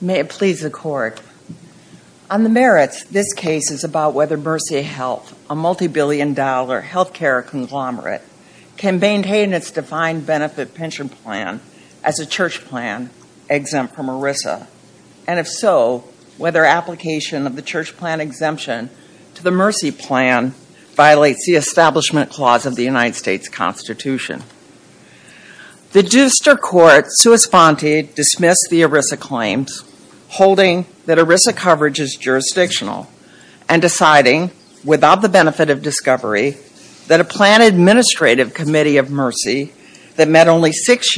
May it please the Court. On the merits, this case is about whether Mercy Health, a multi-billion dollar health care conglomerate, can maintain its defined benefit pension plan as a church plan exempt from ERISA, and if so, whether application of the church plan exemption to the Mercy plan violates the Establishment Clause of the United States Constitution. The Duster Court, sua sponte, dismissed the ERISA claims, holding that ERISA coverage is jurisdictional, and deciding, without the benefit of discovery, that a plan administrative committee of Mercy that met only six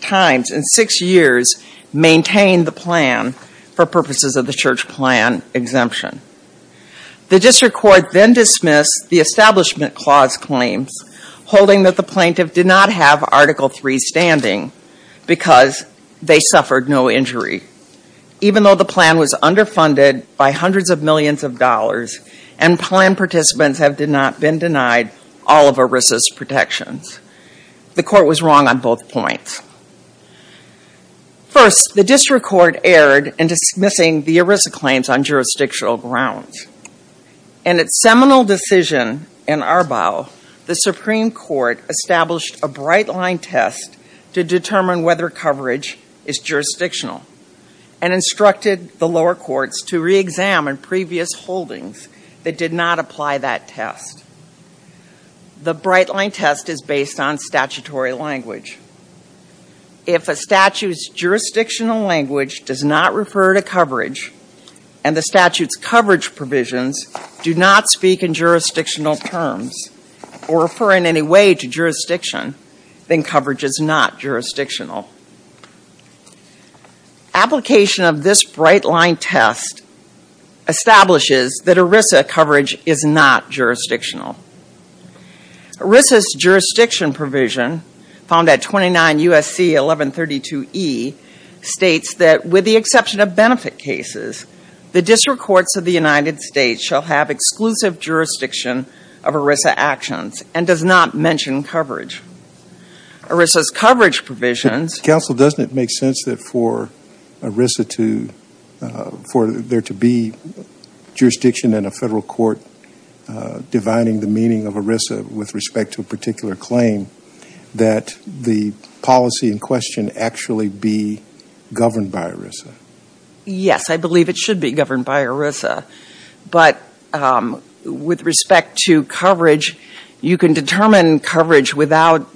times in six years maintained the plan for purposes of the church plan exemption. The Duster Court then dismissed the Establishment Clause claims, holding that the plaintiff did not have Article III standing because they suffered no injury, even though the plan was underfunded by hundreds of millions of dollars and plan participants have not been denied all of ERISA's protections. The Court was wrong on both points. First, the District Court erred in dismissing the ERISA claims on jurisdictional grounds. In its seminal decision in Arbaugh, the Supreme Court established a bright-line test to determine whether coverage is jurisdictional, and instructed the lower courts to reexamine previous holdings that did not apply that test. The bright-line test is based on statutory language. If a statute's jurisdictional language does not refer to coverage, and the statute's coverage provisions do not speak in jurisdictional terms, or refer in any way to jurisdiction, then coverage is not jurisdictional. Application of this bright-line test establishes that ERISA coverage is not jurisdictional. ERISA's jurisdiction provision, found at 29 U.S.C. 1132e, states that, with the exception of benefit cases, the District Courts of the United States shall have exclusive jurisdiction of ERISA actions, and does not mention coverage. ERISA's coverage provisions... Counsel, doesn't it make sense that for ERISA to, for there to be jurisdiction in a federal court divining the meaning of ERISA with respect to a particular claim, that the policy in question actually be governed by ERISA? Yes, I believe it should be governed by ERISA. But with respect to coverage, you can determine coverage without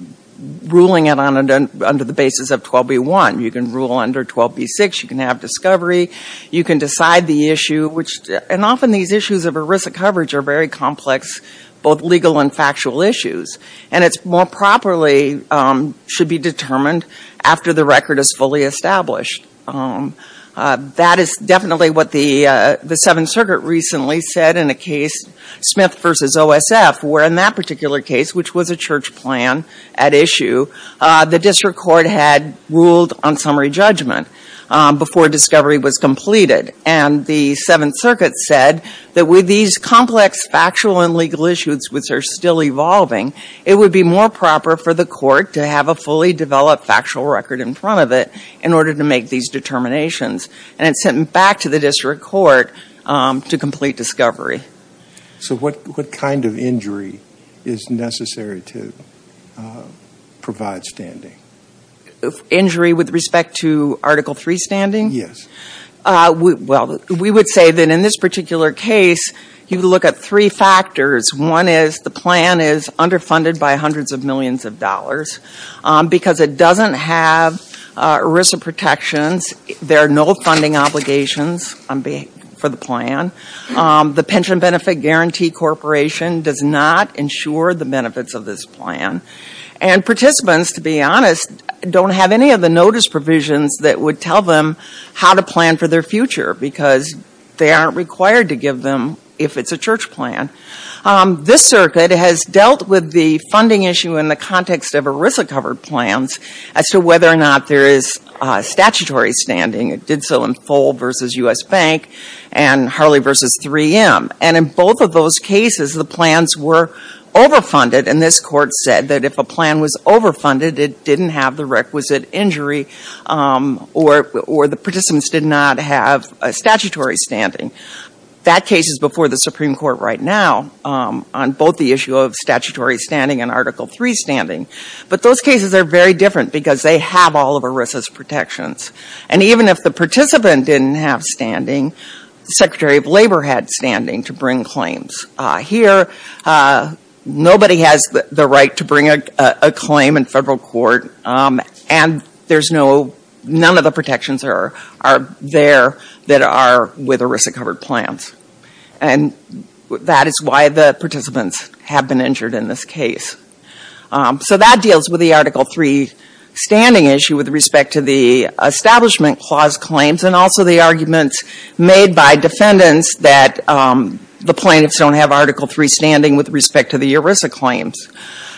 ruling it under the basis of 12b-1. You can rule under 12b-6, you can have discovery, you can decide the issue, and often these issues of ERISA coverage are very complex, both legal and factual issues. And it more properly should be determined after the record is fully established. That is definitely what the Seventh Circuit recently said in a case, Smith v. OSF, where in that particular case, which was a church plan at issue, the district court had ruled on summary judgment before discovery was completed. And the Seventh Circuit said that with these complex factual and legal issues, which are still evolving, it would be more proper for the court to have a fully developed factual record in front of it in order to make these determinations. And it's sent back to the district court to complete discovery. So what kind of injury is necessary to provide standing? Injury with respect to Article III standing? Yes. Well, we would say that in this particular case, you look at three factors. One is the plan is underfunded by hundreds of millions of dollars because it doesn't have ERISA protections. There are no funding obligations for the plan. The Pension Benefit Guarantee Corporation does not insure the benefits of this plan. And participants, to be honest, don't have any of the notice provisions that would tell them how to plan for their future because they aren't required to give them if it's a church plan. This circuit has dealt with the funding issue in the context of ERISA-covered plans as to whether or not there is statutory standing. It did so in Foale v. U.S. Bank and Harley v. 3M. And in both of those cases, the plans were overfunded. And this court said that if a plan was overfunded, it didn't have the requisite injury or the participants did not have a statutory standing. That case is before the Supreme Court right now on both the issue of statutory standing and Article III standing. But those cases are very different because they have all of ERISA's protections. And even if the participant didn't have standing, the Secretary of Labor had standing to bring claims. Here, nobody has the right to bring a claim in federal court. And none of the protections are there that are with ERISA-covered plans. And that is why the participants have been injured in this case. So that deals with the Article III standing issue with respect to the Establishment Clause claims and also the arguments made by defendants that the plaintiffs don't have Article III standing with respect to the ERISA claims.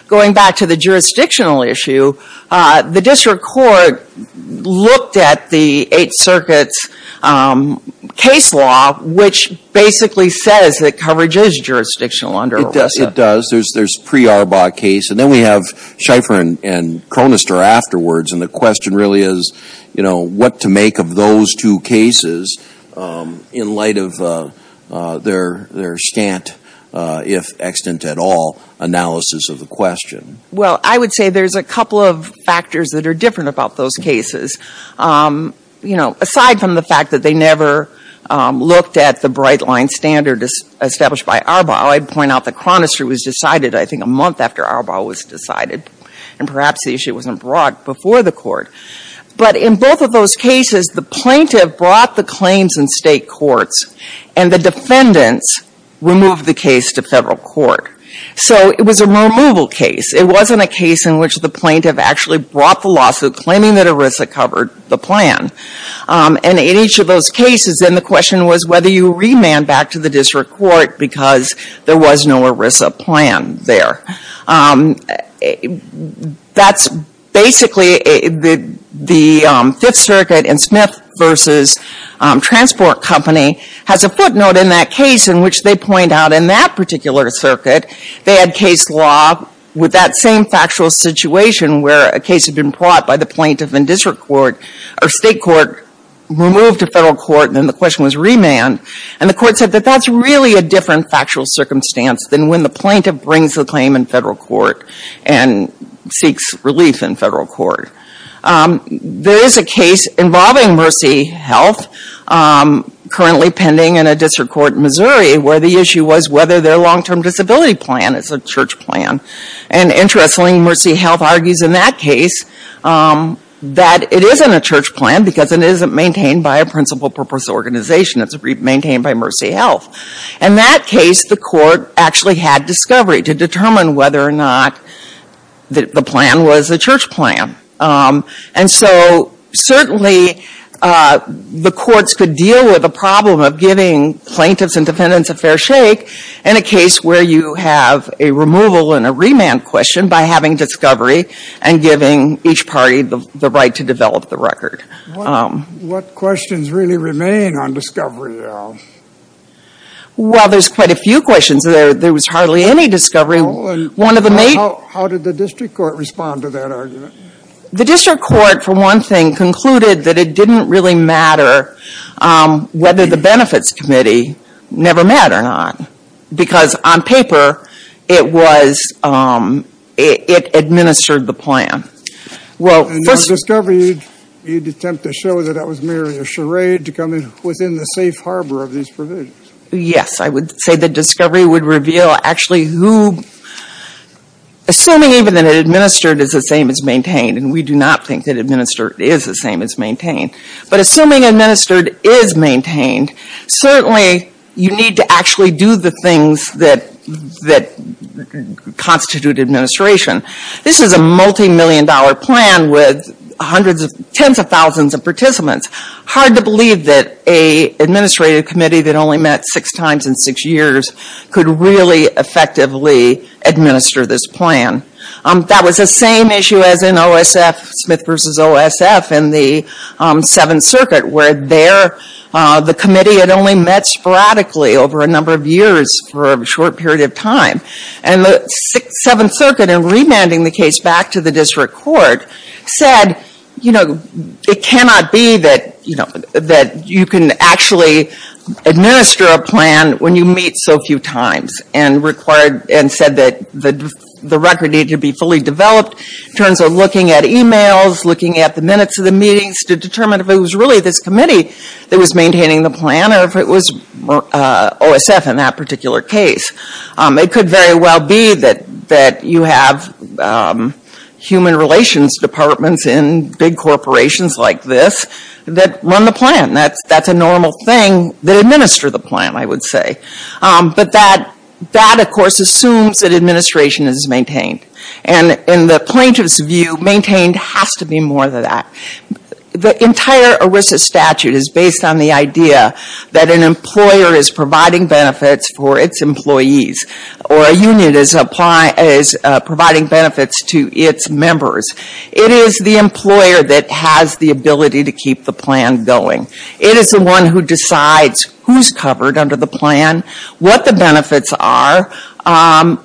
Going back to the jurisdictional issue, the district court looked at the Eighth Circuit's case law, which basically says that coverage is jurisdictional under ERISA. It does. There's a pre-ARBA case. And then we have Schieffer and Chronister afterwards. And the question really is, you know, what to make of those two cases in light of their extant, if extant at all, analysis of the question. Well, I would say there's a couple of factors that are different about those cases, you know, aside from the fact that they never looked at the bright-line standard established by ARBA. I'd point out that Chronister was decided, I think, a month after ARBA was decided. And perhaps the issue wasn't brought before the court. But in both of those cases, the plaintiff brought the claims in state courts and the defendants removed the case to federal court. So it was a removal case. It wasn't a case in which the plaintiff actually brought the lawsuit claiming that ERISA covered the plan. And in each of those cases, then the question was whether you remand back to the district court because there was no ERISA plan there. That's basically the Fifth Circuit and Smith v. Transport Company has a footnote in that case in which they point out in that particular circuit, they had case law with that same factual situation where a case had been brought by the plaintiff in district court or state court, removed to federal court, and then the question was remand. And the court said that that's really a different factual circumstance than when the plaintiff brings the claim in federal court and seeks relief in federal court. There is a case involving Mercy Health currently pending in a district court in Missouri where the issue was whether their long-term disability plan is a church plan. And interestingly, Mercy Health argues in that case that it isn't a church plan because it isn't maintained by a principal purpose organization. It's maintained by Mercy Health. In that case, the court actually had discovery to determine whether or not the plan was a church plan. And so certainly, the courts could deal with the problem of giving plaintiffs and defendants a fair shake in a case where you have a removal and a remand question by having discovery and giving each party the right to develop the record. What questions really remain on discovery, Al? Well, there's quite a few questions. There was hardly any discovery. One of the main... How did the district court respond to that argument? The district court, for one thing, concluded that it didn't really matter whether the benefits committee never met or not because on paper, it administered the plan. And on discovery, you'd attempt to show that that was merely a charade to come in within the safe harbor of these provisions. Yes, I would say that discovery would reveal actually who... Assuming even that it administered is the same as maintained, and we do not think that administered is the same as maintained, but assuming administered is maintained, certainly you need to actually do the things that constitute administration. This is a multi-million dollar plan with tens of thousands of participants. Hard to believe that an administrative committee that only met six times in six years could really effectively administer this plan. That was the same issue as in OSF, Smith v. OSF, in the Seventh Circuit, where the committee had only met sporadically over a number of years for a short period of time. And the Seventh Circuit, in remanding the case back to the district court, said it cannot be that you can actually administer a plan when you meet so few times, and said that the record needed to be fully developed in terms of looking at emails, looking at the minutes of the meetings to determine if it was really this committee that was maintaining the plan or if it was OSF in that particular case. It could very well be that you have human relations departments in big corporations like this that run the plan. That's a normal thing that administer the plan, I would say. But that, of course, assumes that administration is maintained. And in the plaintiff's view, maintained has to be more than that. The entire ERISA statute is based on the idea that an employer is providing benefits for its employees, or a union is providing benefits to its members. It is the employer that has the ability to keep the plan going. It is the one who decides who's covered under the plan, what the benefits are, whether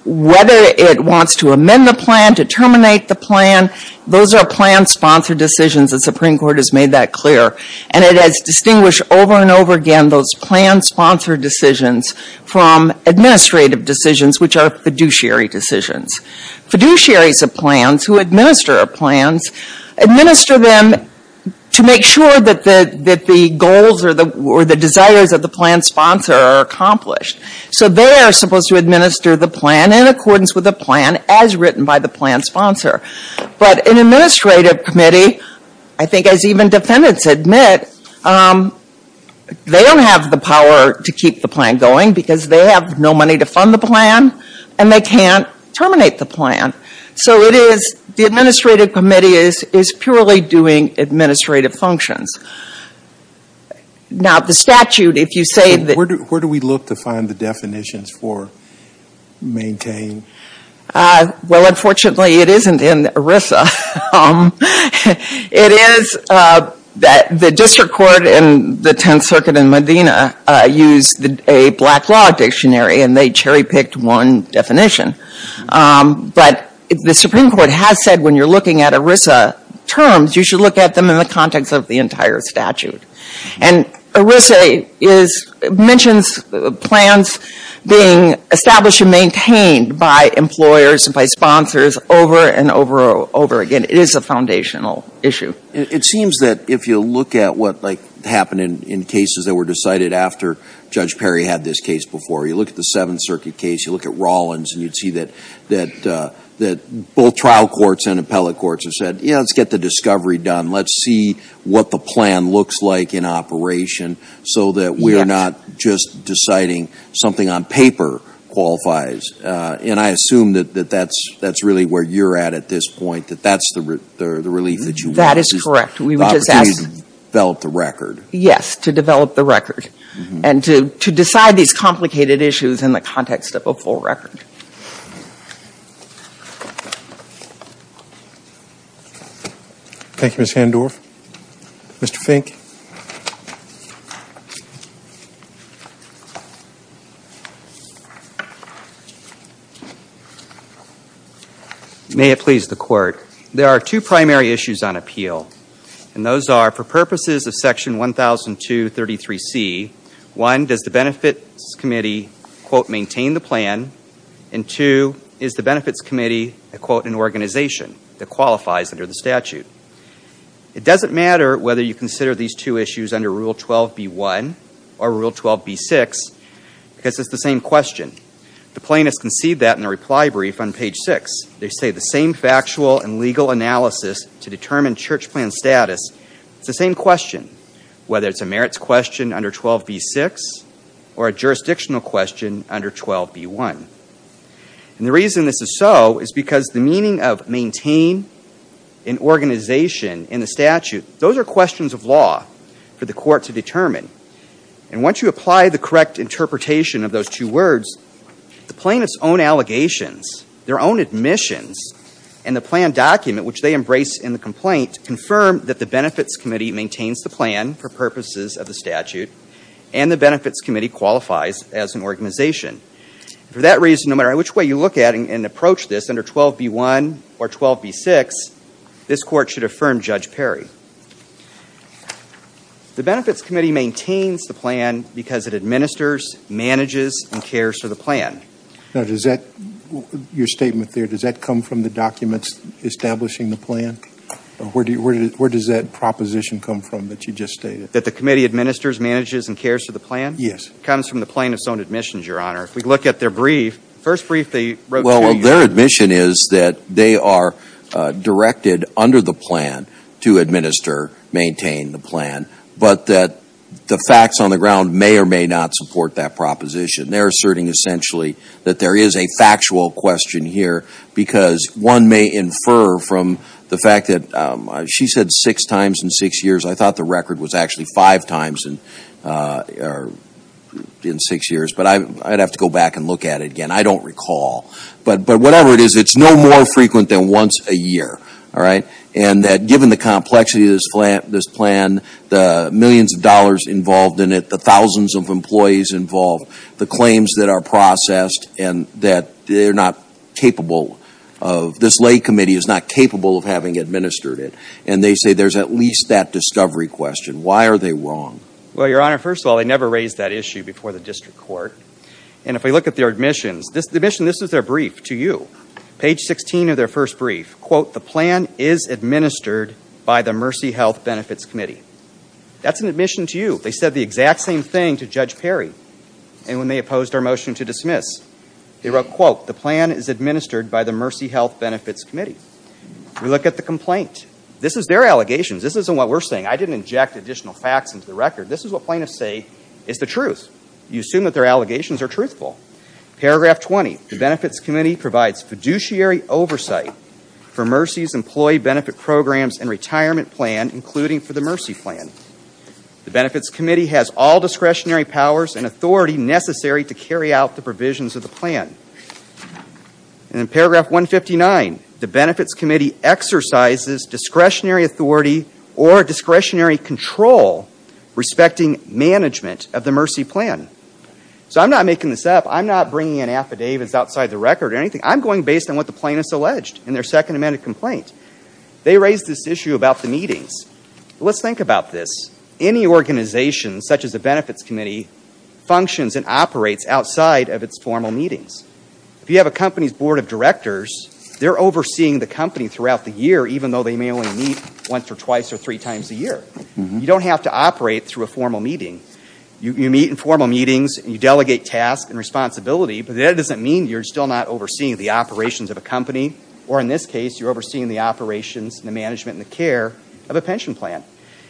it wants to amend the plan, to terminate the plan. Those are plan-sponsored decisions. The Supreme Court has made that clear. And it has distinguished over and over again those plan-sponsored decisions from administrative decisions, which are fiduciary decisions. Fiduciaries of plans who administer plans administer them to make sure that the goals or the desires of the plan sponsor are accomplished. So they are supposed to administer the plan in accordance with the plan as written by the plan sponsor. But an administrative committee, I think as even defendants admit, they don't have the power to keep the plan going because they have no money to fund the plan and they can't terminate the plan. So it is, the administrative committee is purely doing administrative functions. Now the statute, if you say that... Where do we look to find the definitions for maintained? Well, unfortunately it isn't in ERISA. It is that the District Court and the Tenth Circuit in Medina used a black log dictionary and they cherry-picked one definition. But the Supreme Court has said when you're looking at ERISA terms, you should look at them in the context of the entire statute. And ERISA mentions plans being established and maintained by employers and by sponsors over and over again. It is a foundational issue. It seems that if you look at what happened in cases that were decided after Judge Perry had this case before, you look at the Seventh Circuit case, you look at Rawlins and you'd see that both trial courts and appellate courts have said, yeah, let's get the discovery done. Let's see what the plan looks like in operation so that we're not just deciding something on paper qualifies. And I assume that that's really where you're at at this point, that that's the relief that you want. That is correct. We would just ask... The opportunity to develop the record. Yes. To develop the record. And to decide these complicated issues in the context of a full record. Thank you, Mr. Handorf. Mr. Fink. May it please the Court. There are two primary issues on appeal. And those are, for purposes of Section 1002.33c, one, does the Benefits Committee, quote, maintain the plan? And two, is the Benefits Committee, quote, an organization that qualifies under the statute? It doesn't matter whether you consider these two issues under Rule 12b-1 or Rule 12b-6 because it's the same question. The plaintiffs concede that in the reply brief on page 6. They say the same factual and legal analysis to determine church plan status, it's the same question. Whether it's a merits question under 12b-6 or a jurisdictional question under 12b-1. And the reason this is so is because the meaning of maintain an organization in the statute, those are questions of law for the Court to determine. And once you apply the correct interpretation of those two words, the plaintiff's own allegations, their own admissions, and the plan document which they embrace in the complaint, confirm that the Benefits Committee maintains the plan for purposes of the statute and the Benefits Committee qualifies as an organization. For that reason, no matter which way you look at it and approach this under 12b-1 or 12b-6, this Court should affirm Judge Perry. The Benefits Committee maintains the plan because it administers, manages, and cares for the plan. Now, does that, your statement there, does that come from the documents establishing the plan? Where does that proposition come from that you just stated? That the committee administers, manages, and cares for the plan? Yes. It comes from the plaintiff's own admissions, Your Honor. If we look at their brief, the first brief they wrote to you. Well, their admission is that they are directed under the plan to administer, maintain the plan, but that the facts on the ground may or may not support that proposition. They're asserting essentially that there is a factual question here because one may infer from the fact that she said six times in six years. I thought the record was actually five times in six years, but I'd have to go back and look at it again. I don't recall, but whatever it is, it's no more frequent than once a year, all right? And that given the complexity of this plan, the millions of dollars involved in it, the thousands of employees involved, the claims that are processed, and that they're not capable of, this lay committee is not capable of having administered it. And they say there's at least that discovery question. Why are they wrong? Well, Your Honor, first of all, they never raised that issue before the district court. And if we look at their admissions, this is their brief to you. Page 16 of their first brief, quote, the plan is administered by the Mercy Health Benefits Committee. That's an admission to you. They said the exact same thing to Judge Perry. And when they opposed our motion to dismiss, they wrote, quote, the plan is administered by the Mercy Health Benefits Committee. We look at the complaint. This is their allegations. This isn't what we're saying. I didn't inject additional facts into the record. This is what plaintiffs say is the truth. You assume that their allegations are truthful. Paragraph 20, the Benefits Committee provides fiduciary oversight for Mercy's employee benefit programs and retirement plan, including for the Mercy plan. The Benefits Committee has all discretionary powers and authority necessary to carry out the provisions of the plan. And in paragraph 159, the Benefits Committee exercises discretionary authority or discretionary control respecting management of the Mercy plan. So I'm not making this up. I'm not bringing in affidavits outside the record or anything. I'm going based on what the plaintiffs alleged in their second amended complaint. They raised this issue about the meetings. Let's think about this. Any organization, such as the Benefits Committee, functions and operates outside of its formal meetings. If you have a company's board of directors, they're overseeing the company throughout the year, even though they may only meet once or twice or three times a year. You don't have to operate through a formal meeting. You meet in formal meetings, you delegate tasks and responsibility, but that doesn't mean you're still not overseeing the operations of a company. Or in this case, you're overseeing the operations and the management and the care of a pension plan.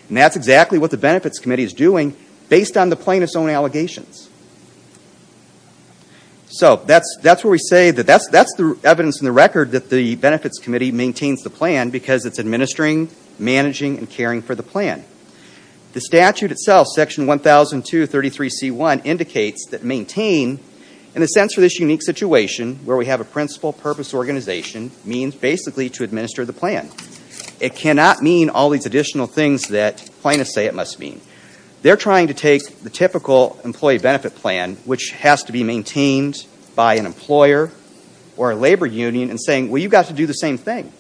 And that's exactly what the Benefits Committee is doing based on the plaintiff's own allegations. So, that's where we say that that's the evidence in the record that the Benefits Committee maintains the plan because it's administering, managing, and caring for the plan. The statute itself, section 1002.33c.1, indicates that maintain, in a sense for this unique situation where we have a principal purpose organization, means basically to administer the plan. It cannot mean all these additional things that plaintiffs say it must mean. They're trying to take the typical employee benefit plan, which has to be maintained by an employer or a labor union, and saying, well, you've got to do the same thing.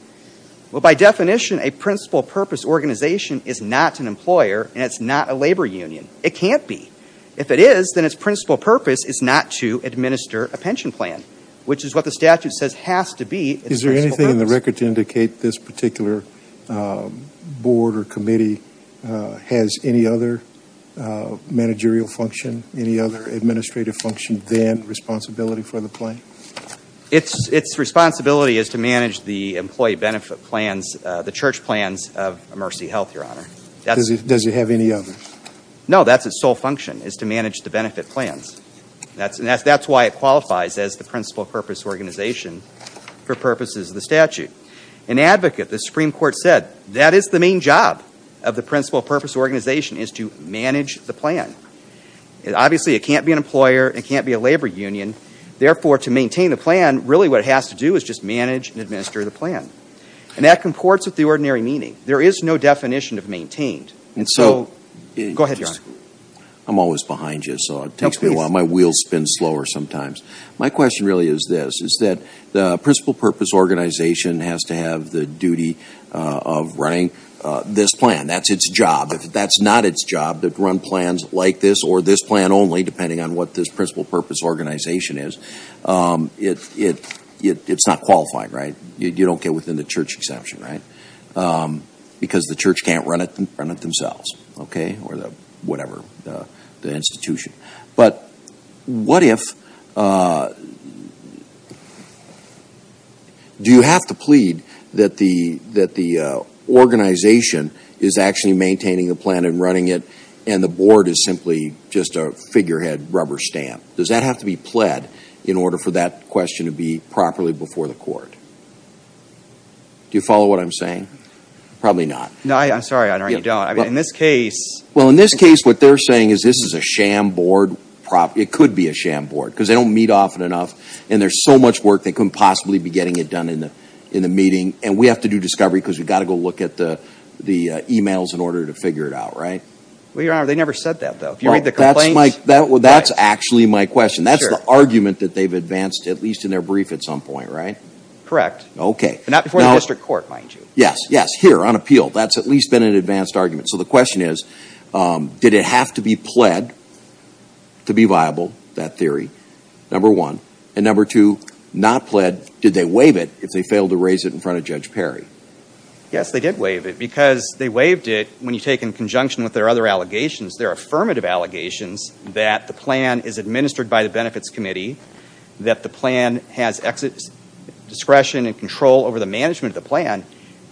Well, by definition, a principal purpose organization is not an employer and it's not a labor union. It can't be. If it is, then its principal purpose is not to administer a pension plan, which is what the statute says has to be its principal purpose. Can the record indicate this particular board or committee has any other managerial function, any other administrative function than responsibility for the plan? Its responsibility is to manage the employee benefit plans, the church plans of Mercy Health, Your Honor. Does it have any others? No, that's its sole function, is to manage the benefit plans. That's why it qualifies as the principal purpose organization for purposes of the statute. An advocate, the Supreme Court said, that is the main job of the principal purpose organization is to manage the plan. Obviously, it can't be an employer, it can't be a labor union. Therefore, to maintain the plan, really what it has to do is just manage and administer the plan. And that comports with the ordinary meaning. And so, go ahead, Your Honor. I'm always behind you, so it takes me a while. My wheels spin slower sometimes. My question really is this, is that the principal purpose organization has to have the duty of running this plan. That's its job. If that's not its job, to run plans like this or this plan only, depending on what this principal purpose organization is, it's not qualifying, right? You don't get within the church exception, right? Because the church can't run it themselves, okay, or whatever, the institution. But what if, do you have to plead that the organization is actually maintaining the plan and running it, and the board is simply just a figurehead rubber stamp? Does that have to be pled in order for that question to be properly before the court? Do you follow what I'm saying? Probably not. No, I'm sorry, Your Honor, you don't. In this case... Well, in this case, what they're saying is this is a sham board. It could be a sham board, because they don't meet often enough, and there's so much work they couldn't possibly be getting it done in the meeting. And we have to do discovery, because we've got to go look at the emails in order to figure it out, right? Well, Your Honor, they never said that, though. If you read the complaints... That's actually my question. That's the argument that they've advanced, at least in their brief, at some point, right? Correct. Okay. But not before the district court, mind you. Yes, yes. Here, on appeal. That's at least been an advanced argument. So the question is, did it have to be pled to be viable, that theory, number one? And number two, not pled, did they waive it if they failed to raise it in front of Judge Perry? Yes, they did waive it, because they waived it when you take in conjunction with their other allegations, their affirmative allegations, that the plan is administered by the Benefits Committee, that the plan has exit discretion and control over the management of the plan.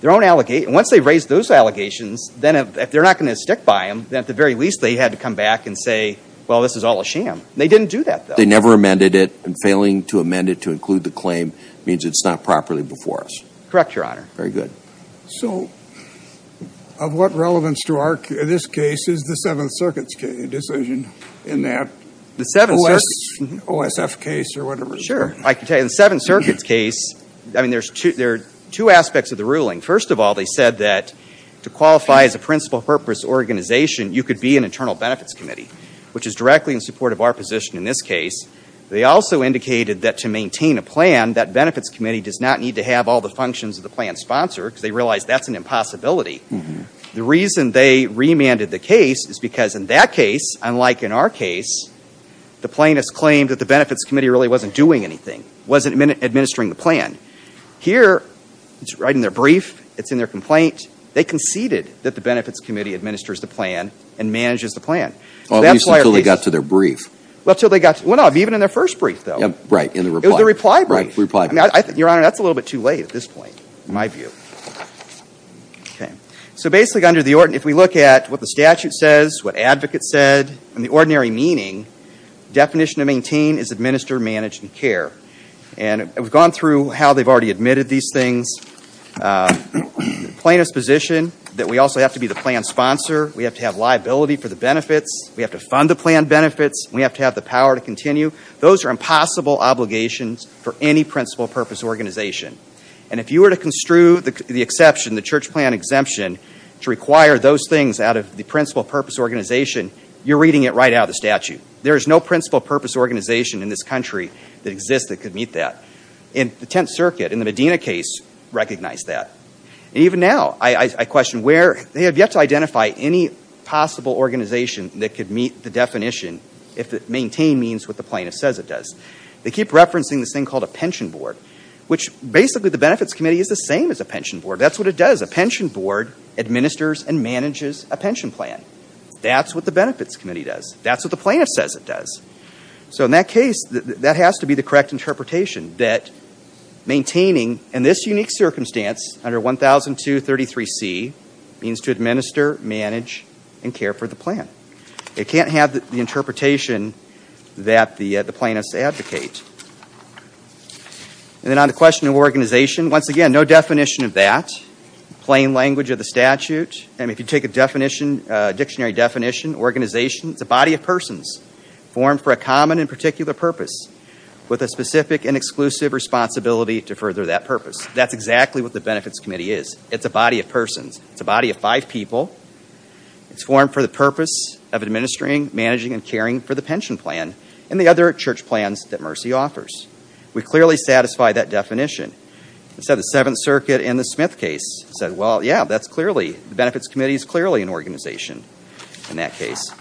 Once they raise those allegations, if they're not going to stick by them, then at the very least they had to come back and say, well, this is all a sham. They didn't do that, though. They never amended it, and failing to amend it to include the claim means it's not properly before us. Correct, Your Honor. Very good. So of what relevance to this case is the Seventh Circuit's decision in that? The Seventh Circuit? OSF case or whatever. Sure. I can tell you, in the Seventh Circuit's case, I mean, there are two aspects of the ruling. First of all, they said that to qualify as a principal purpose organization, you could be an internal Benefits Committee, which is directly in support of our position in this case. They also indicated that to maintain a plan, that Benefits Committee does not need to have all the functions of the plan sponsored, because they realize that's an impossibility. The reason they remanded the case is because in that case, unlike in our case, the plaintiffs claimed that the Benefits Committee really wasn't doing anything, wasn't administering the plan. Here, it's right in their brief, it's in their complaint. They conceded that the Benefits Committee administers the plan and manages the plan. Well, at least until they got to their brief. Well, until they got to their brief. Well, no. Even in their first brief, though. Right. In the reply. It was the reply brief. Right. Reply brief. Your Honor, that's a little bit too late at this point, in my view. Okay. So, basically, if we look at what the statute says, what advocates said, and the ordinary meaning, the definition of maintain is administer, manage, and care. And we've gone through how they've already admitted these things. Plaintiff's position that we also have to be the plan sponsor, we have to have liability for the benefits, we have to fund the plan benefits, we have to have the power to continue. Those are impossible obligations for any principal purpose organization. And if you were to construe the exception, the church plan exemption, to require those things out of the principal purpose organization, you're reading it right out of the statute. There is no principal purpose organization in this country that exists that could meet that. And the Tenth Circuit, in the Medina case, recognized that. And even now, I question where, they have yet to identify any possible organization that could meet the definition if maintain means what the plaintiff says it does. They keep referencing this thing called a pension board, which, basically, the Benefits Committee is the same as a pension board. That's what it does. A pension board administers and manages a pension plan. That's what the Benefits Committee does. That's what the plaintiff says it does. So in that case, that has to be the correct interpretation, that maintaining, in this unique circumstance, under 1002.33c, means to administer, manage, and care for the plan. It can't have the interpretation that the plaintiffs advocate. And then on the question of organization, once again, no definition of that. Plain language of the statute. I mean, if you take a definition, a dictionary definition, organization, it's a body of persons formed for a common and particular purpose with a specific and exclusive responsibility to further that purpose. That's exactly what the Benefits Committee is. It's a body of persons. It's a body of five people. It's formed for the purpose of administering, managing, and caring for the pension plan and the other church plans that Mercy offers. We clearly satisfy that definition. Instead of the Seventh Circuit in the Smith case, said, well, yeah, that's clearly, the Benefits Committee is clearly an organization in that case.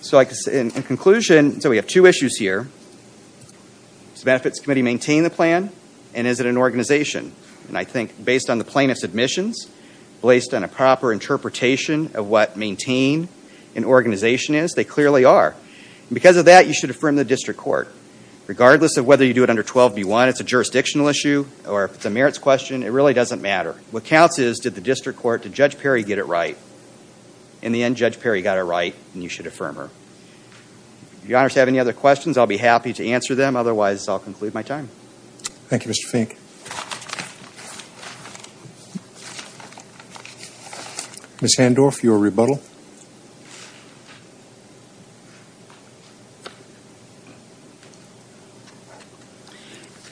So in conclusion, so we have two issues here. Does the Benefits Committee maintain the plan? And is it an organization? And I think based on the plaintiff's admissions, based on a proper interpretation of what maintain an organization is, they clearly are. Because of that, you should affirm the district court. Regardless of whether you do it under 12B1, it's a jurisdictional issue, or if it's a merits question, it really doesn't matter. What counts is, did the district court, did Judge Perry get it right? In the end, Judge Perry got it right, and you should affirm her. If you, Your Honor, have any other questions, I'll be happy to answer them. Otherwise, I'll conclude my time. Thank you, Mr. Fink. Ms. Handorff, your rebuttal.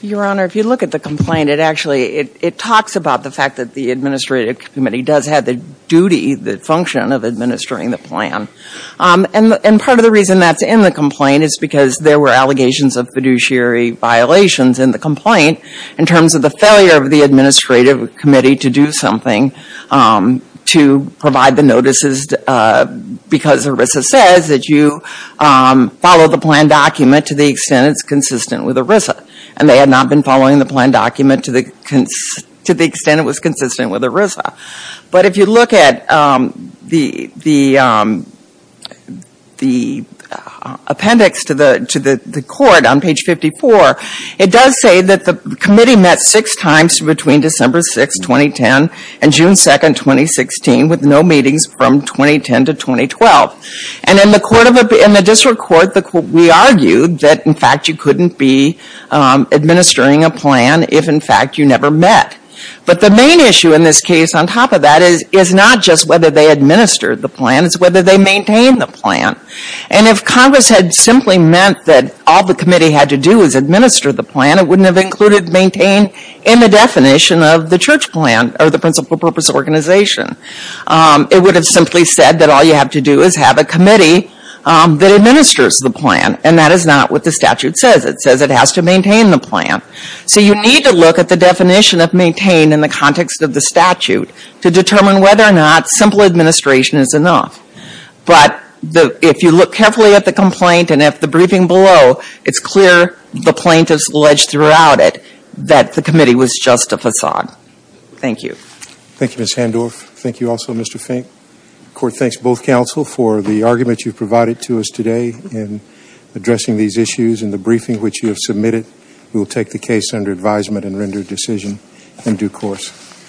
Your Honor, if you look at the complaint, it actually, it talks about the fact that the Administrative Committee does have the duty, the function of administering the plan. And part of the reason that's in the complaint is because there were allegations of fiduciary violations in the complaint, in terms of the failure of the Administrative Committee to do something to provide the notices, because ERISA says that you follow the plan document to the extent it's consistent with ERISA. And they had not been following the plan document to the extent it was consistent with ERISA. But if you look at the appendix to the court on page 54, it says that the Administrative Committee met six times between December 6, 2010, and June 2, 2016, with no meetings from 2010 to 2012. And in the district court, we argued that, in fact, you couldn't be administering a plan if, in fact, you never met. But the main issue in this case, on top of that, is not just whether they administered the plan, it's whether they maintained the plan. And if Congress had simply meant that all the committee had to do is administer the plan, it wouldn't have included maintain in the definition of the church plan, or the principal purpose organization. It would have simply said that all you have to do is have a committee that administers the plan, and that is not what the statute says. It says it has to maintain the plan. So you need to look at the definition of maintain in the context of the statute to determine whether or not simple administration is enough. But if you look carefully at the complaint and at the briefing below, it's clear the plaintiffs alleged throughout it that the committee was just a facade. Thank you. Thank you, Ms. Handorf. Thank you also, Mr. Fink. The court thanks both counsel for the argument you've provided to us today in addressing these issues and the briefing which you have submitted. We will take the case under advisement and render a decision in due course.